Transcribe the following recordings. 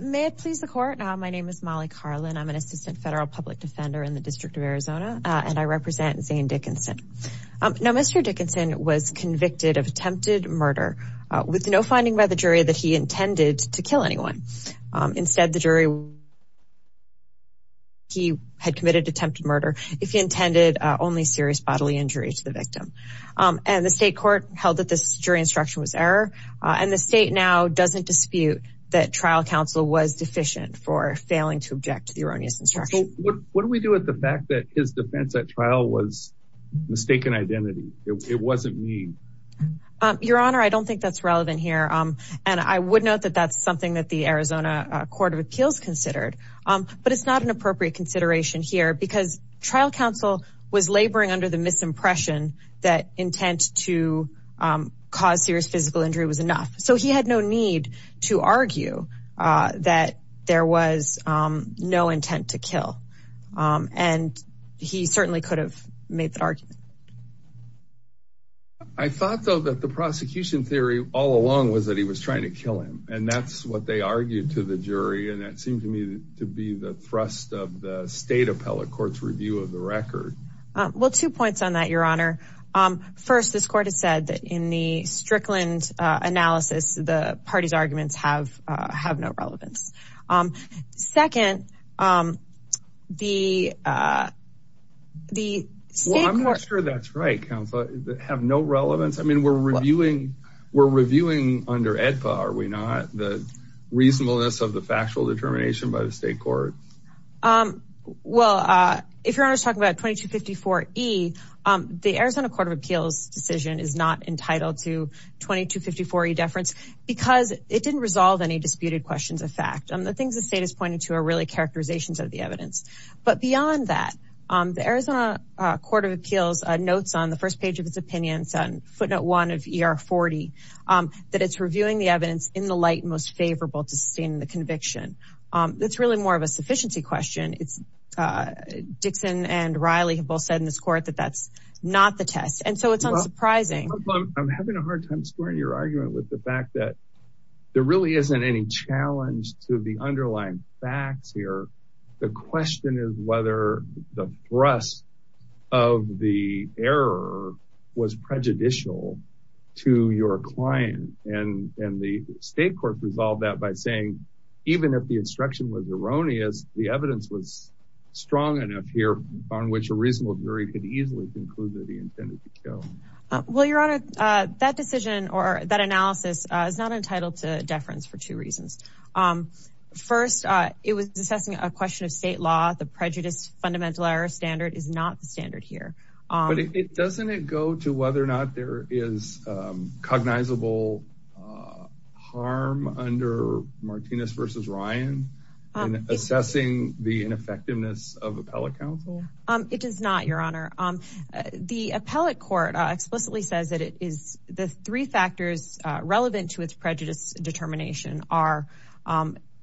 May it please the court. My name is Molly Carlin. I'm an assistant federal public defender in the District of Arizona and I represent Zane Dickinson. Now Mr. Dickinson was convicted of attempted murder with no finding by the jury that he intended to kill anyone. Instead the jury he had committed attempted murder if he intended only serious bodily injury to the victim. And the state court held that this jury instruction was error and the state now doesn't dispute that trial counsel was deficient for failing to object to the erroneous instruction. What do we do with the fact that his defense at trial was mistaken identity? It wasn't me. Your honor I don't think that's relevant here and I would note that that's something that the Arizona Court of Appeals considered but it's not an appropriate consideration here because trial counsel was laboring under the misimpression that intent to cause serious physical injury was so he had no need to argue that there was no intent to kill and he certainly could have made that argument. I thought though that the prosecution theory all along was that he was trying to kill him and that's what they argued to the jury and that seemed to me to be the thrust of the state appellate court's review of the record. Well two points on that your honor. First this Strickland analysis the party's arguments have no relevance. Second the the state court. Well I'm not sure that's right counsel that have no relevance I mean we're reviewing we're reviewing under AEDPA are we not the reasonableness of the factual determination by the state court. Well if your honor is talking about 2254E the Arizona Court of 2254E deference because it didn't resolve any disputed questions of fact and the things the state is pointing to are really characterizations of the evidence but beyond that the Arizona Court of Appeals notes on the first page of its opinions on footnote one of ER40 that it's reviewing the evidence in the light most favorable to sustain the conviction. That's really more of a sufficiency question it's Dixon and Riley have both said in this court that that's not the test and so it's surprising. I'm having a hard time squaring your argument with the fact that there really isn't any challenge to the underlying facts here the question is whether the thrust of the error was prejudicial to your client and and the state court resolved that by saying even if the instruction was erroneous the evidence was strong enough here on which a reasonable jury could go. Well your honor that decision or that analysis is not entitled to deference for two reasons. First it was assessing a question of state law the prejudice fundamental error standard is not the standard here. But doesn't it go to whether or not there is cognizable harm under Martinez versus Ryan in assessing the ineffectiveness of appellate counsel? It does not your honor the appellate court explicitly says that it is the three factors relevant to its prejudice determination are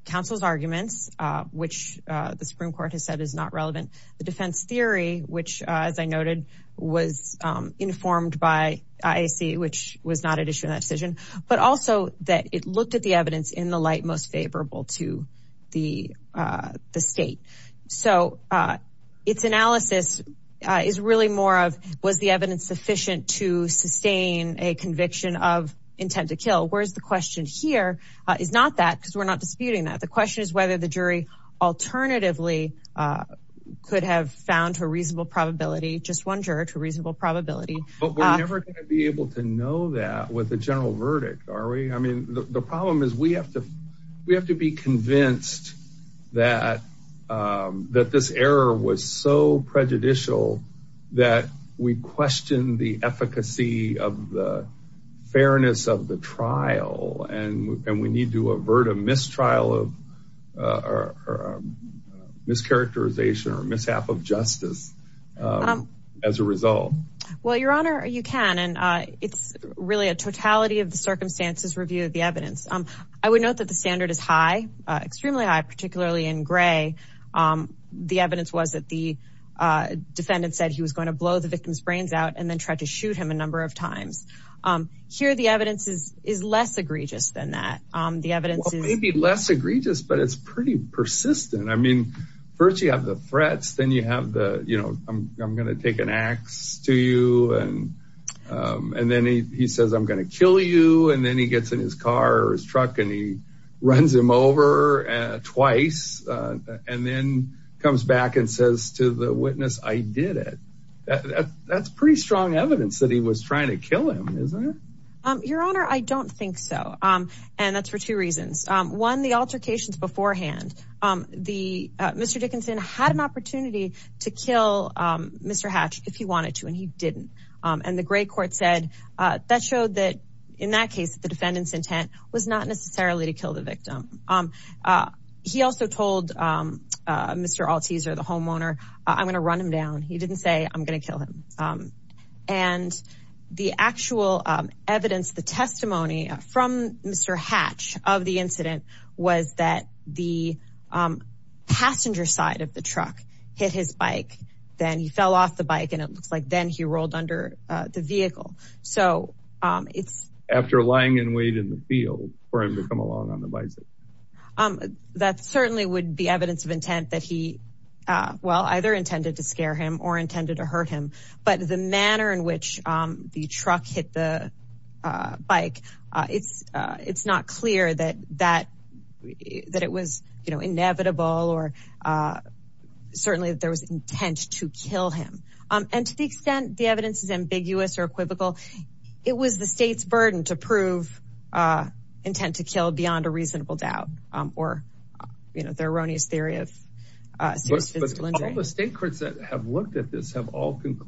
counsel's arguments which the Supreme Court has said is not relevant the defense theory which as I noted was informed by IAC which was not an issue in that decision but also that it looked at the evidence in the light most favorable to the state. So its analysis is really more of was the evidence sufficient to sustain a conviction of intent to kill whereas the question here is not that because we're not disputing that the question is whether the jury alternatively could have found a reasonable probability just one juror to reasonable probability. But we're the problem is we have to we have to be convinced that that this error was so prejudicial that we question the efficacy of the fairness of the trial and we need to avert a mistrial of or mischaracterization or mishap of justice as a result. Well your honor you can and it's really a totality of the circumstances review of the evidence. I would note that the standard is high extremely high particularly in gray. The evidence was that the defendant said he was going to blow the victim's brains out and then tried to shoot him a number of times. Here the evidence is is less egregious than that. The evidence is maybe less egregious but it's pretty persistent. I mean first you have the threats then you have the you know I'm going to take an ax to you and and then he says I'm going to kill you and then he gets in his car or his truck and he runs him over twice and then comes back and says to the witness I did it. That's pretty strong evidence that he was trying to kill him isn't it? Your honor I don't think so and that's for two reasons. One the altercations beforehand. Mr. Dickinson had an opportunity to kill Mr. Hatch if he wanted to and he didn't and the gray court said that showed that in that case the defendant's intent was not necessarily to kill the victim. He also told Mr. Alteaser the homeowner I'm going to run him down. He didn't say I'm going to kill him and the actual evidence the testimony from Mr. Hatch of the incident was that the passenger side of the truck hit his bike then he fell off the bike and it looks like then he rolled under the vehicle. So it's after lying in wait in the field for him to come along on the bicycle. That certainly would be evidence of intent that he well either intended to scare him or intended to hurt him but the manner in which the truck hit the bike it's it's not clear that that that it was you know inevitable or certainly there was intent to kill him and to the extent the evidence is ambiguous or equivocal it was the state's burden to prove intent to kill beyond a reasonable doubt or you know the erroneous theory of serious physical injury. But all the state courts that have looked at this have all and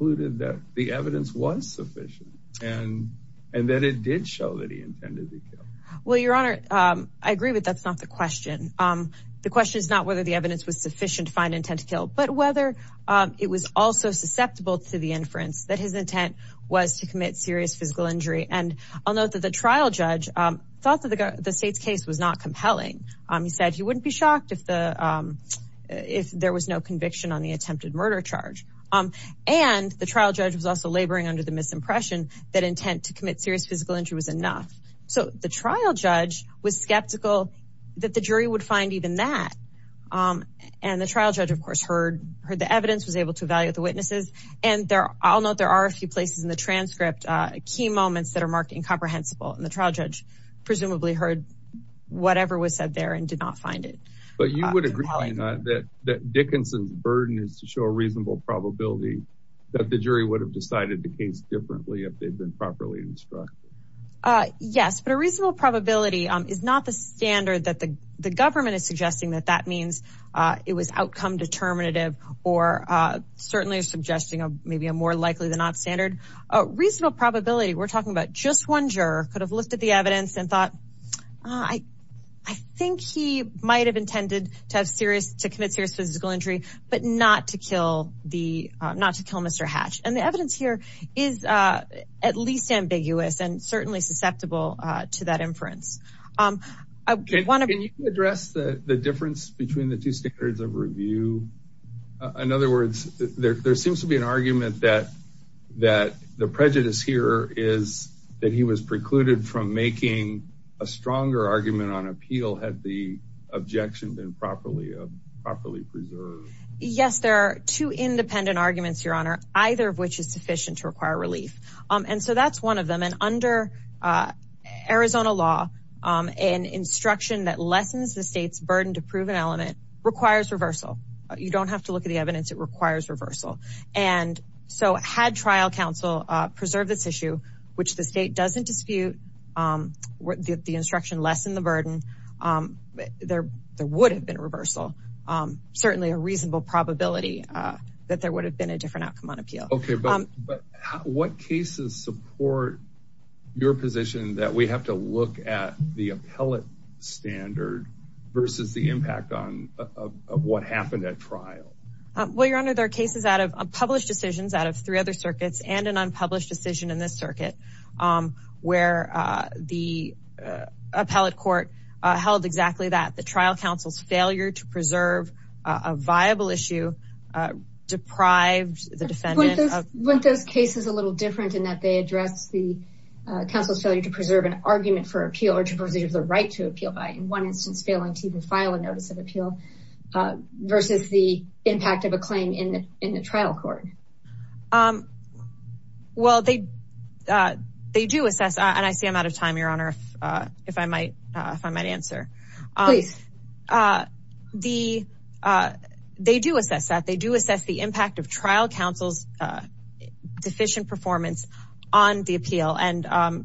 and that it did show that he intended to kill. Well your honor I agree but that's not the question. The question is not whether the evidence was sufficient to find intent to kill but whether it was also susceptible to the inference that his intent was to commit serious physical injury. And I'll note that the trial judge thought that the state's case was not compelling. He said he wouldn't be shocked if the if there was no conviction on the attempted murder charge. And the trial judge was also laboring under the misimpression that intent to commit serious physical injury was enough. So the trial judge was skeptical that the jury would find even that. And the trial judge of course heard heard the evidence was able to evaluate the witnesses and there I'll note there are a few places in the transcript key moments that are marked incomprehensible and the trial judge presumably heard whatever was said there and did not find it. You would agree that Dickinson's burden is to show a reasonable probability that the jury would have decided the case differently if they'd been properly instructed. Yes but a reasonable probability is not the standard that the government is suggesting that that means it was outcome determinative or certainly suggesting a maybe a more likely than not standard. A reasonable probability we're talking about just one juror could have the evidence and thought I think he might have intended to have serious to commit serious physical injury but not to kill the not to kill Mr. Hatch. And the evidence here is at least ambiguous and certainly susceptible to that inference. I want to address the difference between the two standards of review. In other words there seems to be an argument that that the prejudice here is that he was precluded from making a stronger argument on appeal had the objection been properly properly preserved. Yes there are two independent arguments your honor either of which is sufficient to require relief. And so that's one of them and under Arizona law an instruction that lessens the state's burden to prove an element requires reversal. You don't preserve this issue which the state doesn't dispute the instruction lessen the burden. There would have been reversal certainly a reasonable probability that there would have been a different outcome on appeal. Okay but what cases support your position that we have to look at the appellate standard versus the impact on of what happened at trial? Well your honor there are cases out of published decisions out of three other circuits and an unpublished decision in this circuit where the appellate court held exactly that the trial counsel's failure to preserve a viable issue deprived the defendant. Weren't those cases a little different in that they address the counsel's failure to preserve an argument for appeal or to preserve the right to appeal by in one instance failing to even file a notice of appeal versus the impact of a claim in the trial court? Well they do assess and I see I'm out of time your honor if I might answer. They do assess that they do assess the impact of trial counsel's deficient performance on the appeal and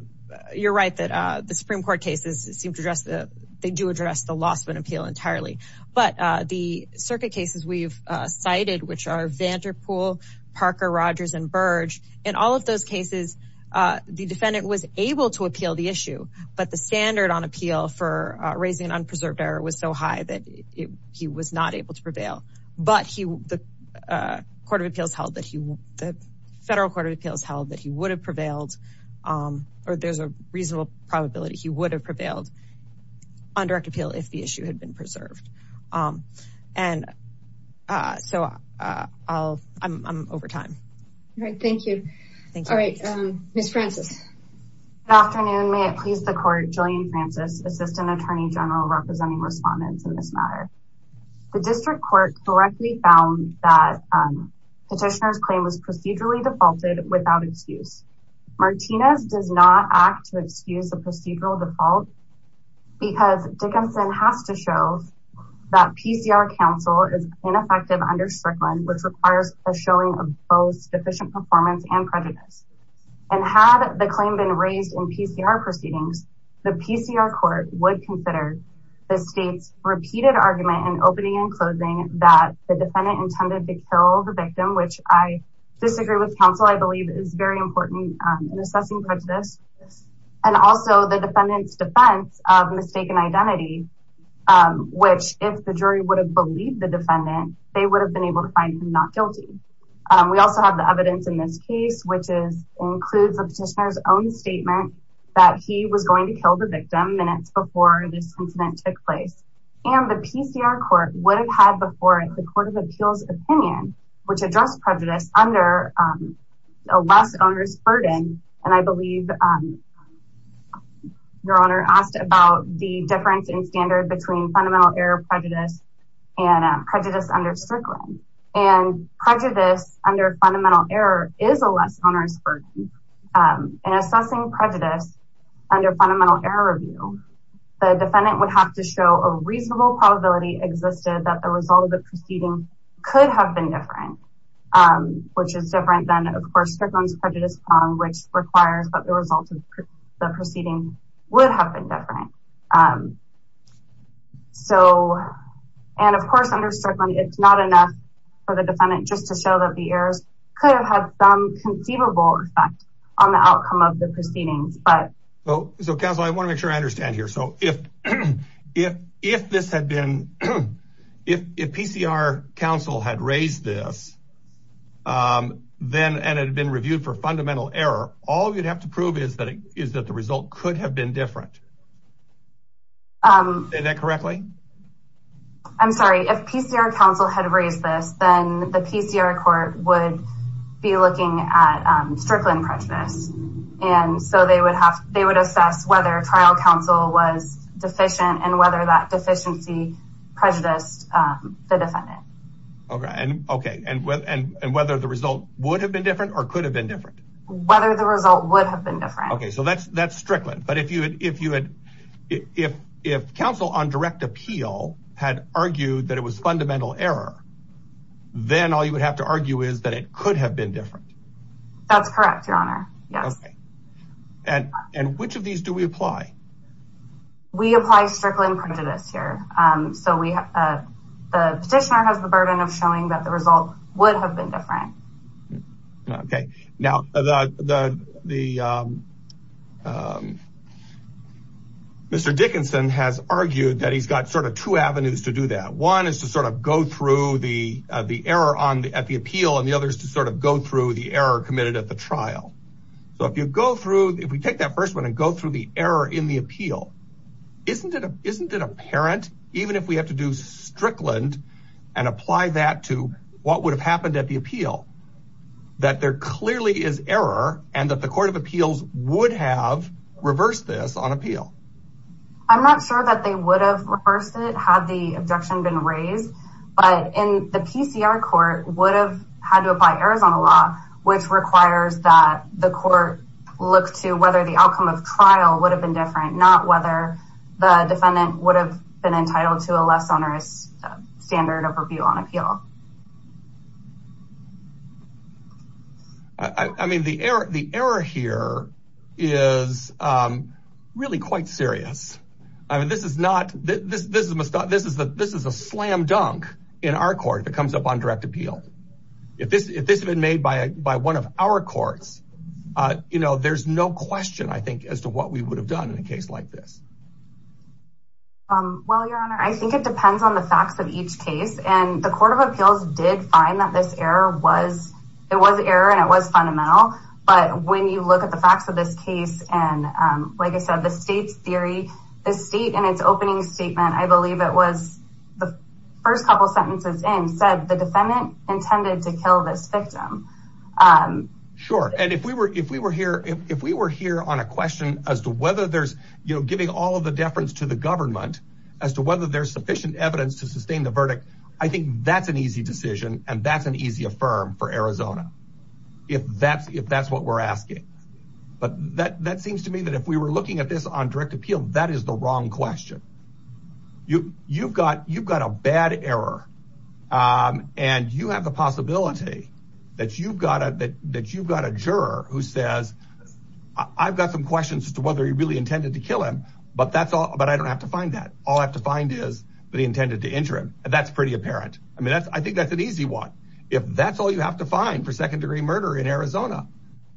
you're right that the supreme court cases seem to address the they do address the loss of an appeal entirely but the circuit cases we've cited which are Vanderpool, Parker, Rogers and Burge in all of those cases the defendant was able to appeal the issue but the standard on appeal for raising an unpreserved error was so high that he was not able to prevail but he the court of appeals held that he the federal court of appeals held that he would have prevailed or there's a reasonable probability he would have prevailed on direct appeal if the issue had been preserved and so I'll I'm over time. All right thank you. Thank you. All right Ms. Francis. Good afternoon may it please the court Jillian Francis assistant attorney general representing respondents in this matter. The district court correctly found that petitioner's claim was procedurally defaulted without excuse. Martinez does not act to excuse the procedural default because Dickinson has to show that PCR counsel is ineffective under Strickland which requires a showing of both deficient performance and prejudice and had the claim been raised in PCR proceedings the PCR court would consider the state's repeated argument in opening and closing that the defendant intended to kill the victim which I disagree with counsel I believe is very important in assessing prejudice and also the defendant's defense of mistaken identity which if the jury would have believed the defendant they would have been able to find him not guilty. We also have the evidence in this case which is includes a petitioner's own statement that he was going to kill the victim minutes before this incident took place and the PCR court would have had before it the court of appeals opinion which addressed prejudice under a less onerous burden and I believe your honor asked about the difference in standard between fundamental error prejudice and prejudice under Strickland and prejudice under fundamental error is a less onerous burden in assessing prejudice under fundamental error review the defendant would have to show a reasonable probability existed that the result of the proceeding could have been different which is different than of course Strickland's prejudice which requires that the result of the proceeding would have been different so and of course under Strickland it's not enough for the defendant just to show that the errors could have had some conceivable effect on the outcome of the proceedings but oh so counsel I want to make sure I understand here so if if if this had been if if PCR counsel had raised this um then and it had been reviewed for fundamental error all you'd have to prove is that is that the result could have been different um is that correctly I'm sorry if PCR counsel had raised this then the PCR court would be looking at um Strickland prejudice and so they would have they would assess whether trial counsel was deficient and whether that deficiency prejudiced um the defendant okay and okay and with and and whether the result would have been different or could have been different whether the result would have been different okay so that's that's Strickland but if you if you had if if counsel on direct appeal had argued that it was fundamental error then all you would have to argue is that it could have been different that's correct your honor yes okay and and which of these do we apply we apply Strickland prejudice here um so we uh the petitioner has the burden of showing that the result would have been different okay now the the um um Dickinson has argued that he's got sort of two avenues to do that one is to sort of go through the uh the error on at the appeal and the other is to sort of go through the error committed at the trial so if you go through if we take that first one and go through the error in the appeal isn't it isn't it apparent even if we have to do Strickland and apply that to what would have happened at the appeal that there clearly is error and that the court of appeals would have reversed this on appeal I'm not sure that they would have reversed it had the objection been raised but in the PCR court would have had to apply Arizona law which requires that the court look to whether the outcome of trial would have been different not whether the defendant would have been entitled to a less onerous standard of review on appeal I mean the error the error here is um really quite serious I mean this is not this this must not this is the this is a slam dunk in our court if it comes up on direct appeal if this if this has been made by by one of our courts uh you know there's no question I think as to what we would have done in a case like this um well your honor I think it depends on the facts of each case and the court of appeals did find that this error was it was error and it was fundamental but when you look at the facts of this case and um like I said the state's theory the state in its opening statement I believe it was the first couple sentences in said the defendant intended to kill this victim um sure and if we were if we were here if we were here on a question as to whether there's you know giving all of the deference to the government as to whether there's sufficient evidence to sustain the verdict I think that's an easy decision and that's an easy affirm for Arizona if that's if that's what we're asking but that that seems to me that if we were looking at this on direct appeal that is the wrong question you you've got you've got a bad error um and you have the possibility that you've got a that you've got a juror who says I've got some questions as to whether he really intended to kill him but that's all but I don't have to find that all I have to and that's pretty apparent I mean that's I think that's an easy one if that's all you have to find for second degree murder in Arizona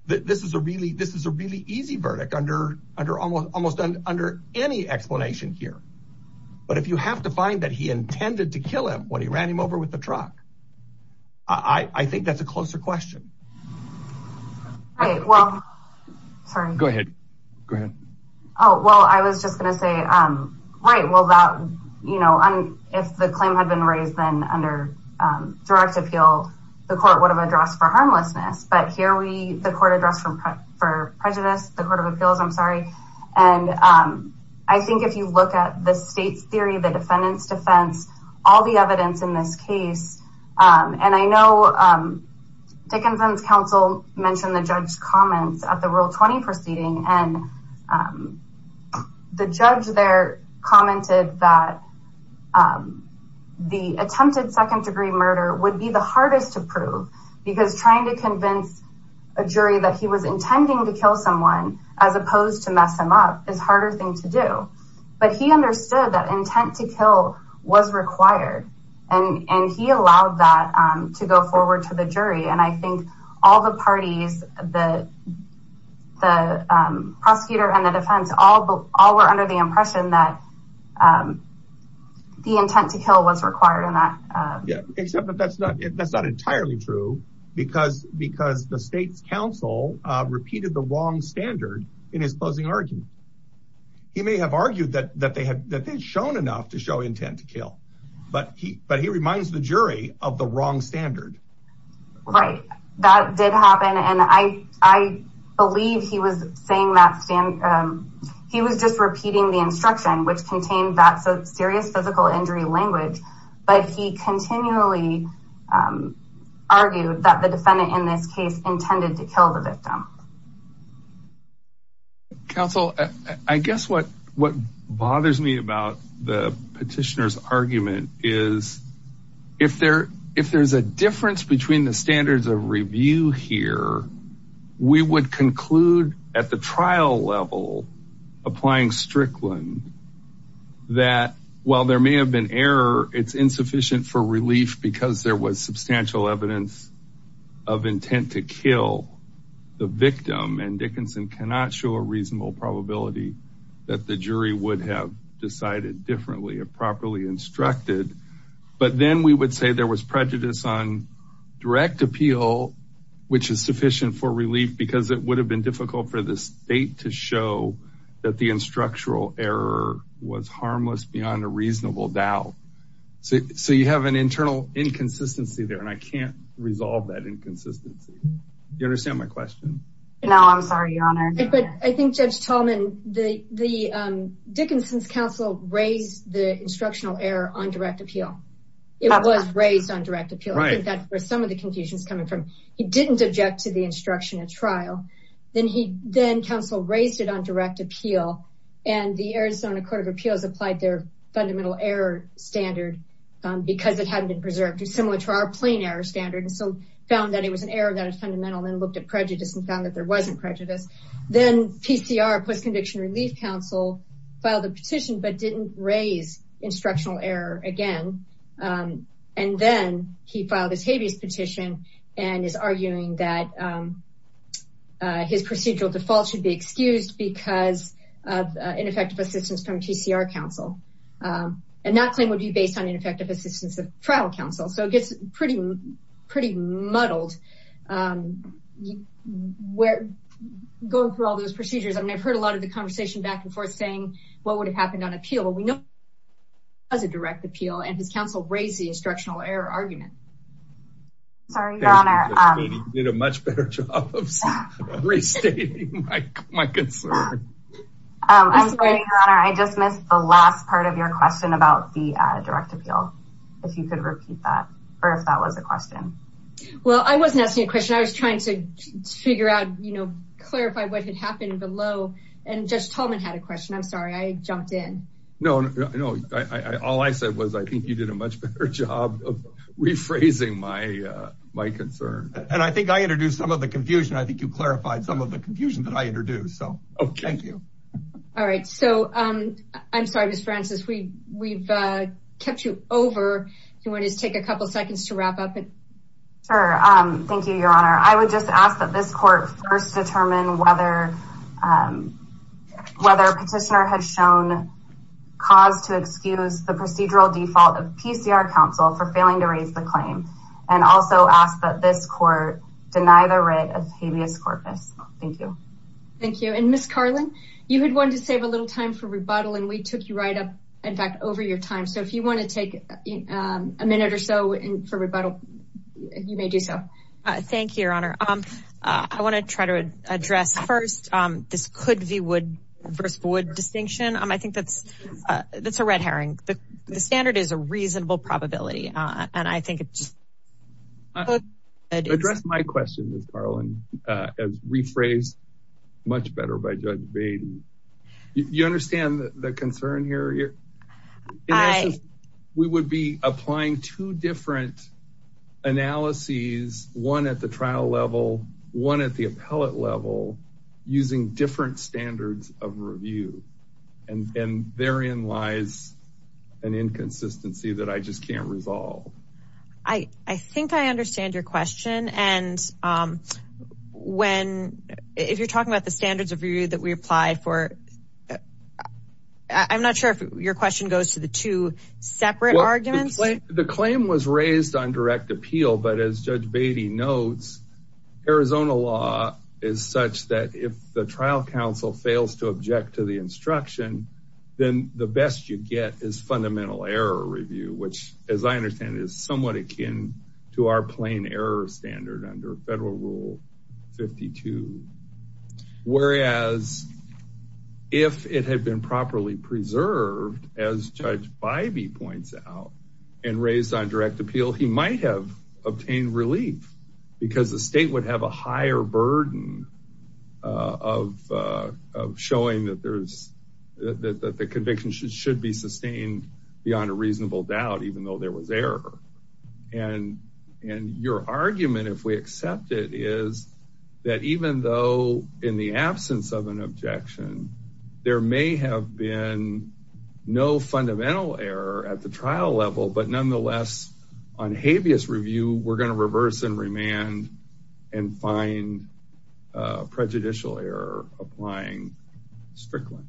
that this is a really this is a really easy verdict under under almost almost done under any explanation here but if you have to find that he intended to kill him when he ran him over with the truck I I think that's a closer question all right well sorry go ahead go ahead oh well I was just going to say um right well that you know if the claim had been raised then under um direct appeal the court would have addressed for harmlessness but here we the court addressed from for prejudice the court of appeals I'm sorry and um I think if you look at the state's theory the defendant's defense all the evidence in this case um and I know um Dickinson's counsel mentioned the judge's comments at the rule 20 and um the judge there commented that um the attempted second degree murder would be the hardest to prove because trying to convince a jury that he was intending to kill someone as opposed to mess him up is harder thing to do but he understood that intent to kill was required and and he allowed that um to go forward to the jury and I think all the parties the the um prosecutor and the defense all all were under the impression that um the intent to kill was required in that yeah except that that's not that's not entirely true because because the state's counsel uh repeated the wrong standard in his closing argument he may have argued that that they had that they'd shown enough to show intent to kill but he but he I I believe he was saying that stand um he was just repeating the instruction which contained that so serious physical injury language but he continually um argued that the defendant in this case intended to kill the victim counsel I guess what what bothers me about the petitioner's argument is if there if there's a difference between the standards of review here we would conclude at the trial level applying Strickland that while there may have been error it's insufficient for relief because there was substantial evidence of intent to kill the victim and Dickinson cannot show a reasonable probability that the jury would have decided differently or properly instructed but then we would say there was prejudice on direct appeal which is sufficient for relief because it would have been difficult for the state to show that the instructional error was harmless beyond a reasonable doubt so so you have an internal inconsistency there and I can't resolve that inconsistency you understand my question no I'm sorry your honor but I think Judge Tolman the I think that's where some of the confusion is coming from he didn't object to the instruction at trial then he then counsel raised it on direct appeal and the Arizona court of appeals applied their fundamental error standard um because it hadn't been preserved similar to our plain error standard and so found that it was an error that was fundamental and looked at prejudice and found that there wasn't prejudice then PCR post-conviction relief counsel filed a petition but didn't raise instructional error again and then he filed his habeas petition and is arguing that his procedural default should be excused because of ineffective assistance from TCR counsel and that claim would be based on ineffective assistance of trial counsel so it gets pretty pretty muddled um where going through all those procedures I mean I've heard a lot of the conversation back and forth saying what would have happened on appeal we know as a direct appeal and his counsel raised the instructional error argument sorry your honor you did a much better job of restating my concern um I'm sorry your honor I just missed the last part of your question about the uh direct appeal if you could repeat that or if that was a question well I wasn't asking a question I was trying to figure out you know clarify what had happened below and Judge Tolman had a question I'm sorry I jumped in no no I all I said was I think you did a much better job of rephrasing my uh my concern and I think I introduced some of the confusion I think you clarified some of the confusion that I introduced so okay thank you all right so um I'm sorry Miss Francis we we've uh kept you over if you want to take a couple seconds to wrap up it sure um thank you your honor I would just ask this court first determine whether um whether a petitioner had shown cause to excuse the procedural default of PCR counsel for failing to raise the claim and also ask that this court deny the writ of habeas corpus thank you thank you and Miss Carlin you had wanted to save a little time for rebuttal and we took you right up in fact over your time so if you want to take a minute or so and for rebuttal you may do so thank you your honor um I want to try to address first um this could be wood versus wood distinction um I think that's uh that's a red herring the standard is a reasonable probability uh and I think it's good address my question Miss Carlin uh as rephrased much better by Judge Bain you understand the concern here I we would be applying two different analyses one at the trial level one at the appellate level using different standards of review and and therein lies an inconsistency that I just can't resolve I I think I understand your question and um when if you're talking about the standards of that we applied for I'm not sure if your question goes to the two separate arguments the claim was raised on direct appeal but as Judge Beatty notes Arizona law is such that if the trial counsel fails to object to the instruction then the best you get is fundamental error review which as I understand is somewhat akin to our plain error standard under federal rule 52 whereas if it had been properly preserved as Judge Bybee points out and raised on direct appeal he might have obtained relief because the state would have a higher burden uh of uh of showing that there's that the conviction should be sustained beyond a reasonable doubt even though there was error and and your argument if we accept it is that even though in the absence of an objection there may have been no fundamental error at the trial level but nonetheless on habeas review we're going to reverse and remand and find uh prejudicial error applying strictly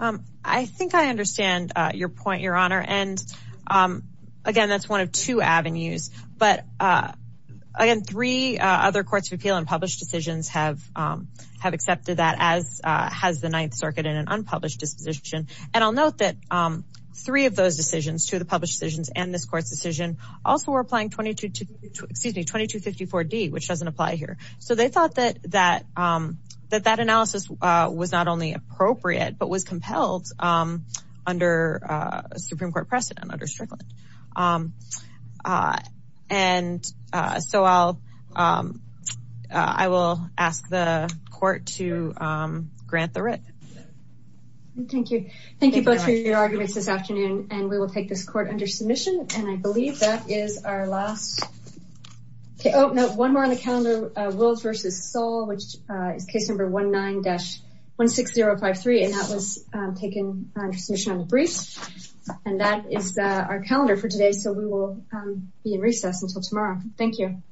um I think I understand uh your point your honor and um again that's one of two avenues but uh again three other courts of appeal and published decisions have um have accepted that as uh has the ninth circuit in an unpublished disposition and I'll note that um three of those decisions to the published decisions and this court's decision also were to excuse me 2254d which doesn't apply here so they thought that that um that that analysis uh was not only appropriate but was compelled um under uh supreme court precedent under Strickland um uh and uh so I'll um I will ask the court to um grant the writ thank you thank you both for your arguments this afternoon and we will take this court under submission and I believe that is our last okay oh no one more on the calendar uh wills versus soul which is case number 19-16053 and that was um taken under submission on the briefs and that is uh our calendar for today so we will um be in recess until tomorrow thank you